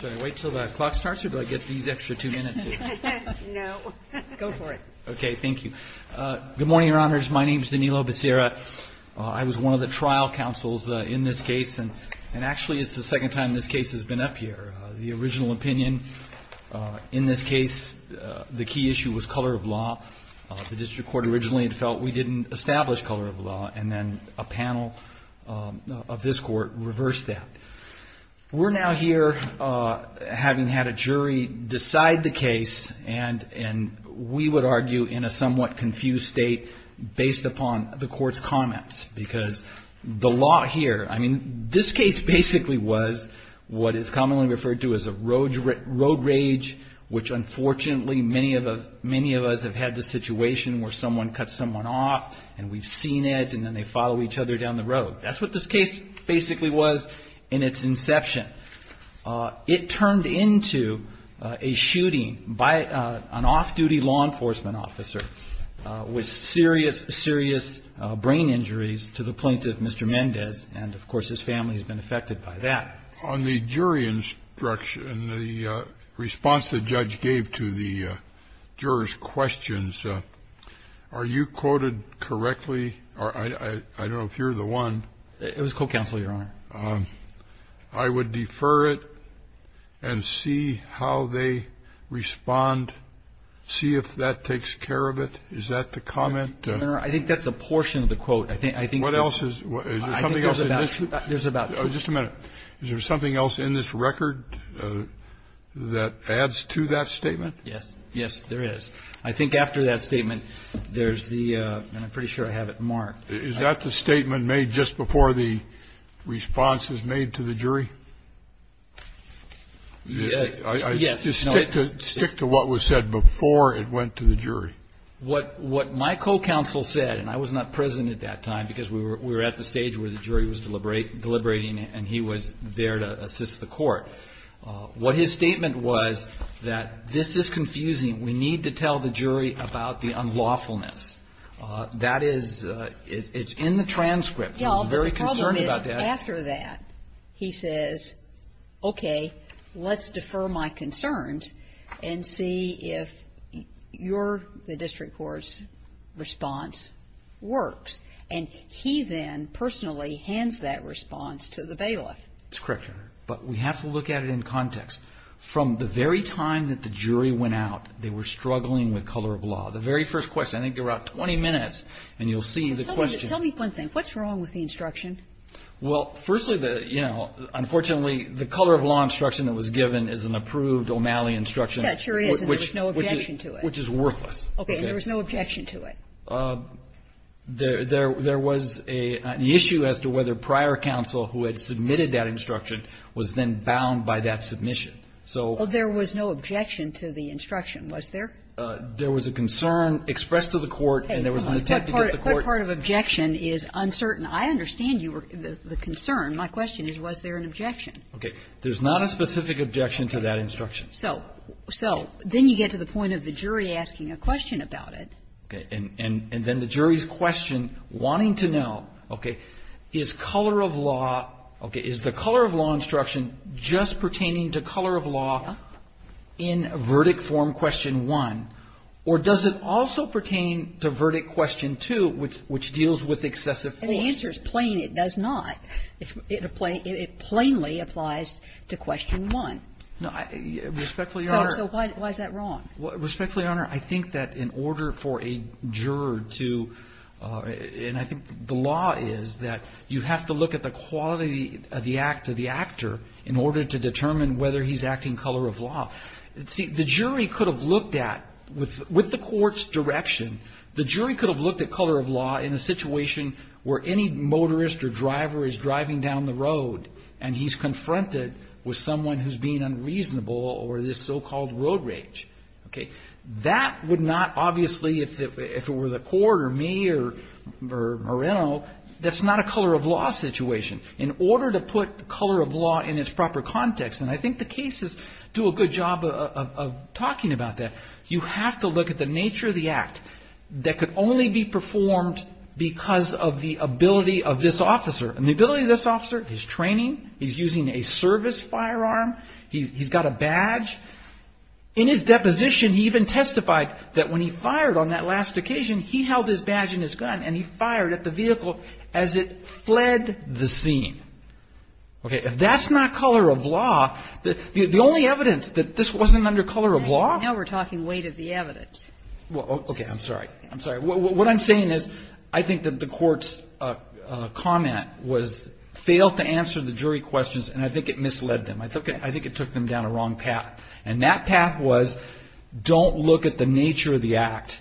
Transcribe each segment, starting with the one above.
Good morning, your honors. My name is Danilo Becerra. I was one of the trial counsels in this case, and actually it's the second time this case has been up here. The original opinion in this case, the key issue was color of law. The district court originally felt we didn't establish color of law, and then a panel of this court reversed that. We're now here, having had a jury decide the case, and we would argue in a somewhat confused state based upon the court's comments, because the law here, I mean, this case basically was what is commonly referred to as a road rage, which unfortunately many of us have had the situation where someone cuts someone off, and we've seen it, and then they follow each other down the road. That's what this case basically was in its inception. It turned into a shooting by an off-duty law enforcement officer with serious, serious brain injuries to the plaintiff, Mr. Mendez, and, of course, his family has been affected by that. On the jury instruction, the response the judge gave to the jurors' questions, are you quoted correctly? I don't know if you're the one. It was court counsel, Your Honor. I would defer it and see how they respond, see if that takes care of it. Is that the comment? I think that's a portion of the quote. I think there's about two. Just a minute. Is there something else in this record that adds to that statement? Yes. Yes, there is. I think after that statement, there's the, and I'm pretty sure I have it marked. Is that the statement made just before the response is made to the jury? Yes. Stick to what was said before it went to the jury. What my co-counsel said, and I was not present at that time because we were at the stage where the jury was deliberating and he was there to assist the court. What his statement was that this is confusing. We need to tell the jury about the unlawfulness. That is, it's in the transcript. I was very concerned about that. The problem is, after that, he says, okay, let's defer my concerns and see if your, the district court's response works. And he then personally hands that response to the bailiff. That's correct, Your Honor. But we have to look at it in context. From the very time that the jury went out, they were struggling with color of law. The very first question, I think there were about 20 minutes, and you'll see the question Tell me one thing. What's wrong with the instruction? Well, firstly, the, you know, unfortunately, the color of law instruction that was given is an approved O'Malley instruction. That sure is, and there was no objection to it. Which is worthless. Okay. And there was no objection to it. There was a, the issue as to whether prior counsel who had submitted that instruction was then bound by that submission. So. Well, there was no objection to the instruction, was there? There was a concern expressed to the court, and there was an attempt to get the court What part of objection is uncertain? I understand you were, the concern. My question is, was there an objection? Okay. There's not a specific objection to that instruction. So, so, then you get to the point of the jury asking a question about it. Okay. And, and then the jury's question, wanting to know, okay, is color of law, okay, is the color of law instruction just pertaining to color of law in verdict form question one, or does it also pertain to verdict question two, which, which deals with excessive force? And the answer is plain it does not. It plainly applies to question one. No, I, respectfully, Your Honor. So, so why, why is that wrong? Respectfully, Your Honor, I think that in order for a juror to, and I think the law is that you have to look at the quality of the act of the actor in order to determine whether he's acting color of law. See, the jury could have looked at, with, with the court's direction, the jury could have looked at color of law in a situation where any motorist or driver is driving down the road, and he's confronted with someone who's being unreasonable or this so-called road rage. Okay. That would not, obviously, if it, if it were the court or me or, or Moreno, that's not a color of law situation. In order to put color of law in its proper context, and I think the cases do a good job of, of, of talking about that, you have to look at the nature of the act that could only be performed because of the ability of this officer. And the ability of this officer, his training, he's using a service firearm, he's, he's got a badge. In his deposition, he even testified that when he fired on that last occasion, he held his badge and his gun, and he fired at the vehicle as it fled the scene. Okay, if that's not color of law, the, the, the only evidence that this wasn't under color of law. Now we're talking weight of the evidence. Well, okay, I'm sorry, I'm sorry. What, what I'm saying is, I think that the court's comment was, failed to answer the jury questions, and I think it misled them. I took, I think it took them down a wrong path. And that path was, don't look at the nature of the act,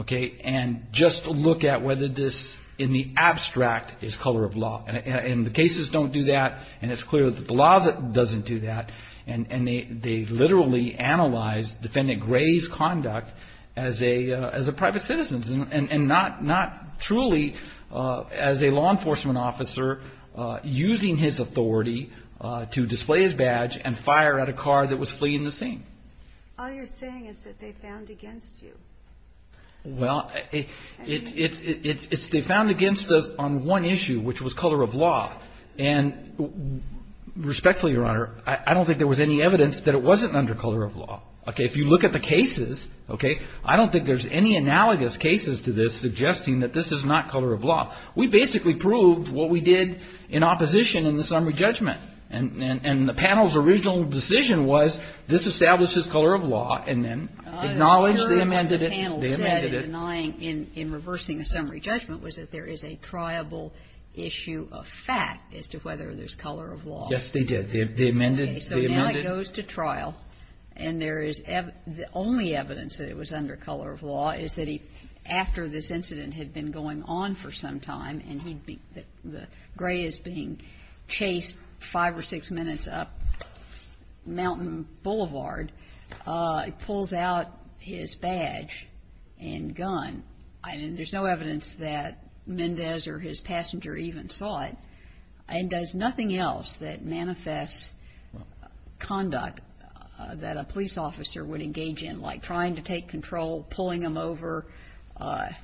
okay, and just look at whether this, in the abstract, is color of law. And, and the cases don't do that, and it's clear that the law doesn't do that. And, and they, they literally analyzed Defendant Gray's conduct as a, as a private citizen, and, and not, not truly as a law enforcement officer using his authority to display his badge and fire at a car that was fleeing the scene. All you're saying is that they found against you. Well, it's, it's, it's, it's, it's, they found against us on one issue, which was color of law, and respectfully, Your Honor, I, I don't think there was any evidence that it wasn't under color of law. Okay, if you look at the cases, okay, I don't think there's any analogous cases to this suggesting that this is not color of law. We basically proved what we did in opposition in the summary judgment. And, and, and the panel's original decision was, this establishes color of law, and then acknowledged they amended it, they amended it. I'm sure what the panel said in denying, in, in reversing the summary judgment, was that there is a triable issue of fact as to whether there's color of law. Yes, they did. They, they amended, they amended. He goes to trial, and there is ev, the only evidence that it was under color of law is that he, after this incident had been going on for some time, and he'd be, the, the gray is being chased five or six minutes up Mountain Boulevard. It pulls out his badge and gun. And there's no evidence that Mendez or his passenger even saw it. And does nothing else that manifests conduct that a police officer would engage in, like trying to take control, pulling them over,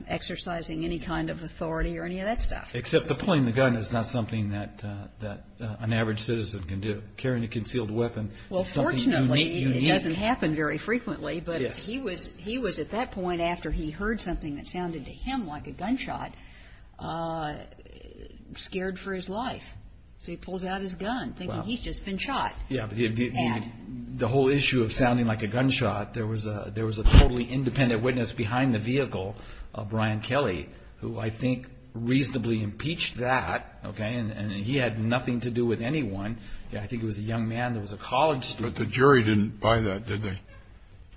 exercising any kind of authority, or any of that stuff. Except the pulling the gun is not something that, that an average citizen can do. Carrying a concealed weapon is something unique. Well, fortunately, it doesn't happen very frequently, but he was, he was at that point after he heard something that sounded to him like a gunshot, scared for his life. So he pulls out his gun, thinking he's just been shot. Yeah, but he, he, the whole issue of sounding like a gunshot, there was a, there was a totally independent witness behind the vehicle, Brian Kelly, who I think reasonably impeached that, okay, and, and he had nothing to do with anyone. Yeah, I think it was a young man that was a college student. But the jury didn't buy that, did they?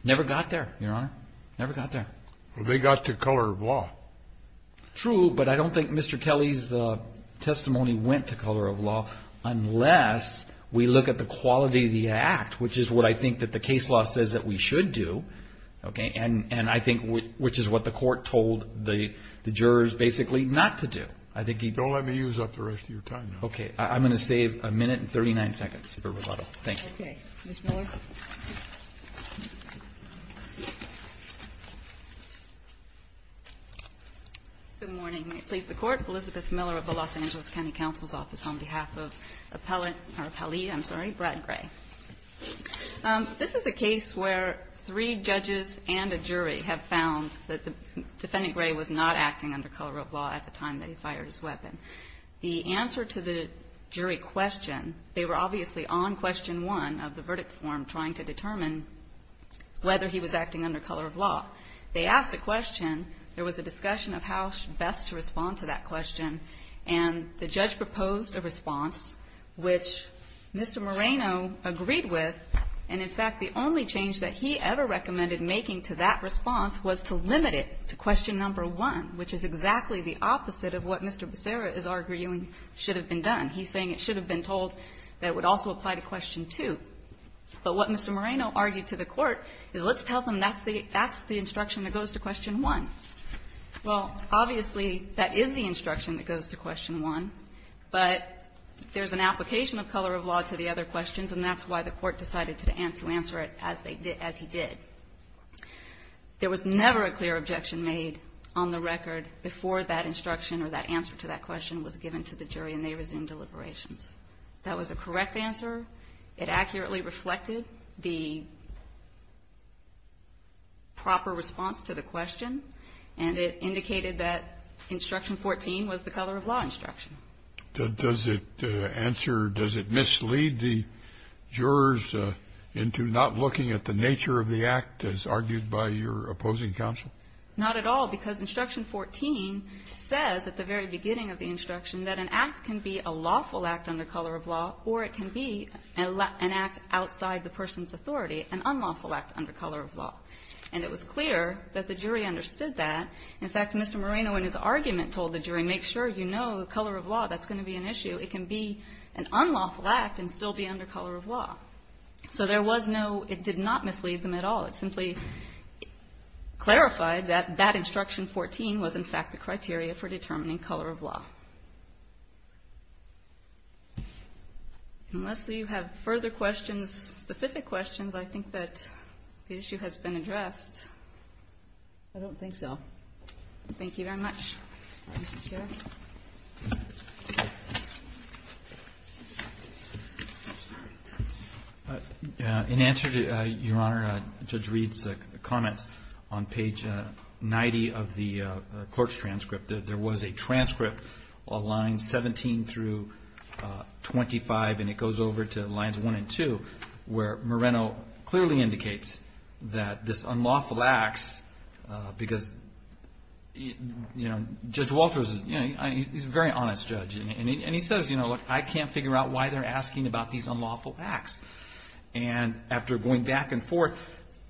Never got there, Your Honor. Never got there. Well, they got to color of law. True, but I don't think Mr. Kelly's testimony went to color of law unless we look at the quality of the act, which is what I think that the case law says that we should do. Okay, and, and I think which, which is what the court told the, the jurors basically not to do. I think he. Don't let me use up the rest of your time now. Okay, I, I'm going to save a minute and 39 seconds for Roboto. Thank you. Okay. Ms. Miller. Good morning. May it please the Court. Elizabeth Miller of the Los Angeles County Counsel's Office on behalf of Appellant, or Appellee, I'm sorry, Brad Gray. This is a case where three judges and a jury have found that the defendant, Gray, was not acting under color of law at the time that he fired his weapon. The answer to the jury question, they were obviously on question one of the verdict form trying to determine whether he was acting under color of law. They asked a question. There was a discussion of how best to respond to that question. And the judge proposed a response which Mr. Moreno agreed with. And in fact, the only change that he ever recommended making to that response was to limit it to question number one, which is exactly the opposite of what Mr. Becerra is arguing should have been done. He's saying it should have been told that it would also apply to question two. But what Mr. Moreno argued to the Court is let's tell them that's the instruction that goes to question one. Well, obviously, that is the instruction that goes to question one. But there's an application of color of law to the other questions, and that's why the Court decided to answer it as he did. There was never a clear objection made on the record before that instruction or that answer to that question was given to the jury, and they resumed deliberations. That was a correct answer. It accurately reflected the proper response to the question, and it indicated that instruction 14 was the color of law instruction. Does it answer or does it mislead the jurors into not looking at the nature of the act as argued by your opposing counsel? Not at all, because instruction 14 says at the very beginning of the instruction that an act can be a lawful act under color of law, or it can be an act outside the person's authority, an unlawful act under color of law. And it was clear that the jury understood that. In fact, Mr. Moreno in his argument told the jury, make sure you know the color of law. That's going to be an issue. It can be an unlawful act and still be under color of law. So there was no – it did not mislead them at all. It simply clarified that that instruction 14 was, in fact, the criteria for determining color of law. Unless you have further questions, specific questions, I think that the issue has been addressed. I don't think so. Thank you very much, Mr. Chair. In answer to Your Honor, Judge Reed's comments on page 90 of the court's transcript, there was a transcript of instruction 14 that said, well, lines 17 through 25, and it goes over to lines 1 and 2, where Moreno clearly indicates that this unlawful act, because Judge Walters, he's a very honest judge, and he says, look, I can't figure out why they're asking about these unlawful acts. And after going back and forth,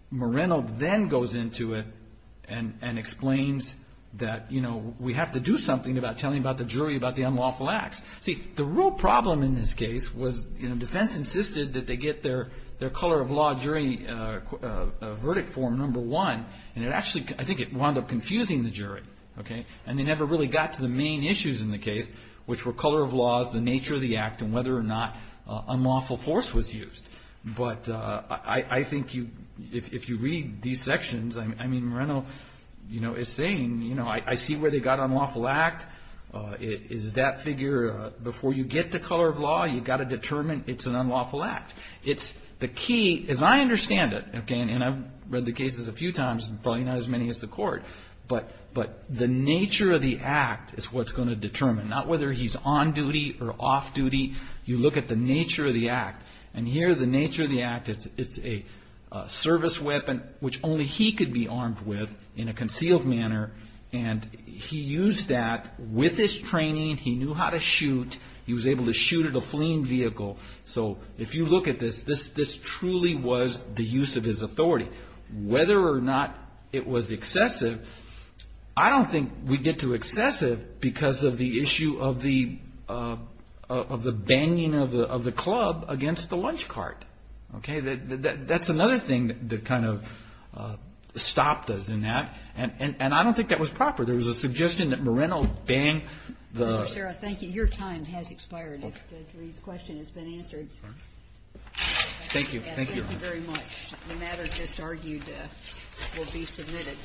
Moreno then goes into it and explains that we have to do something about telling about the jury about the unlawful acts. See, the real problem in this case was defense insisted that they get their color of law jury verdict form number one, and it actually – I think it wound up confusing the jury, okay? And they never really got to the main issues in the case, which were color of law, the nature of the act, and whether or not unlawful force was used. But I think if you read these sections, I mean, Moreno is saying, you know, I see where they got unlawful act. Is that figure – before you get to color of law, you've got to determine it's an unlawful act. It's – the key, as I understand it, okay, and I've read the cases a few times, probably not as many as the court, but the nature of the act is what's going to determine, not whether he's on duty or off duty. You look at the nature of the act, and here the nature of the act, it's a service weapon, which only he could be armed with in a concealed manner, and he used that with his training. He knew how to shoot. He was able to shoot at a fleeing vehicle. So if you look at this, this truly was the use of his authority. Whether or not it was excessive, I don't think we get to excessive because of the issue of the banging of the club against the lunch cart. Okay, that's another thing that kind of stopped us in that, and I don't think that was proper. There was a suggestion that Moreno banged the – Ms. Cicera, thank you. Your time has expired. Dr. Reed's question has been answered. Thank you. Yes, thank you very much. The matter just argued will be submitted.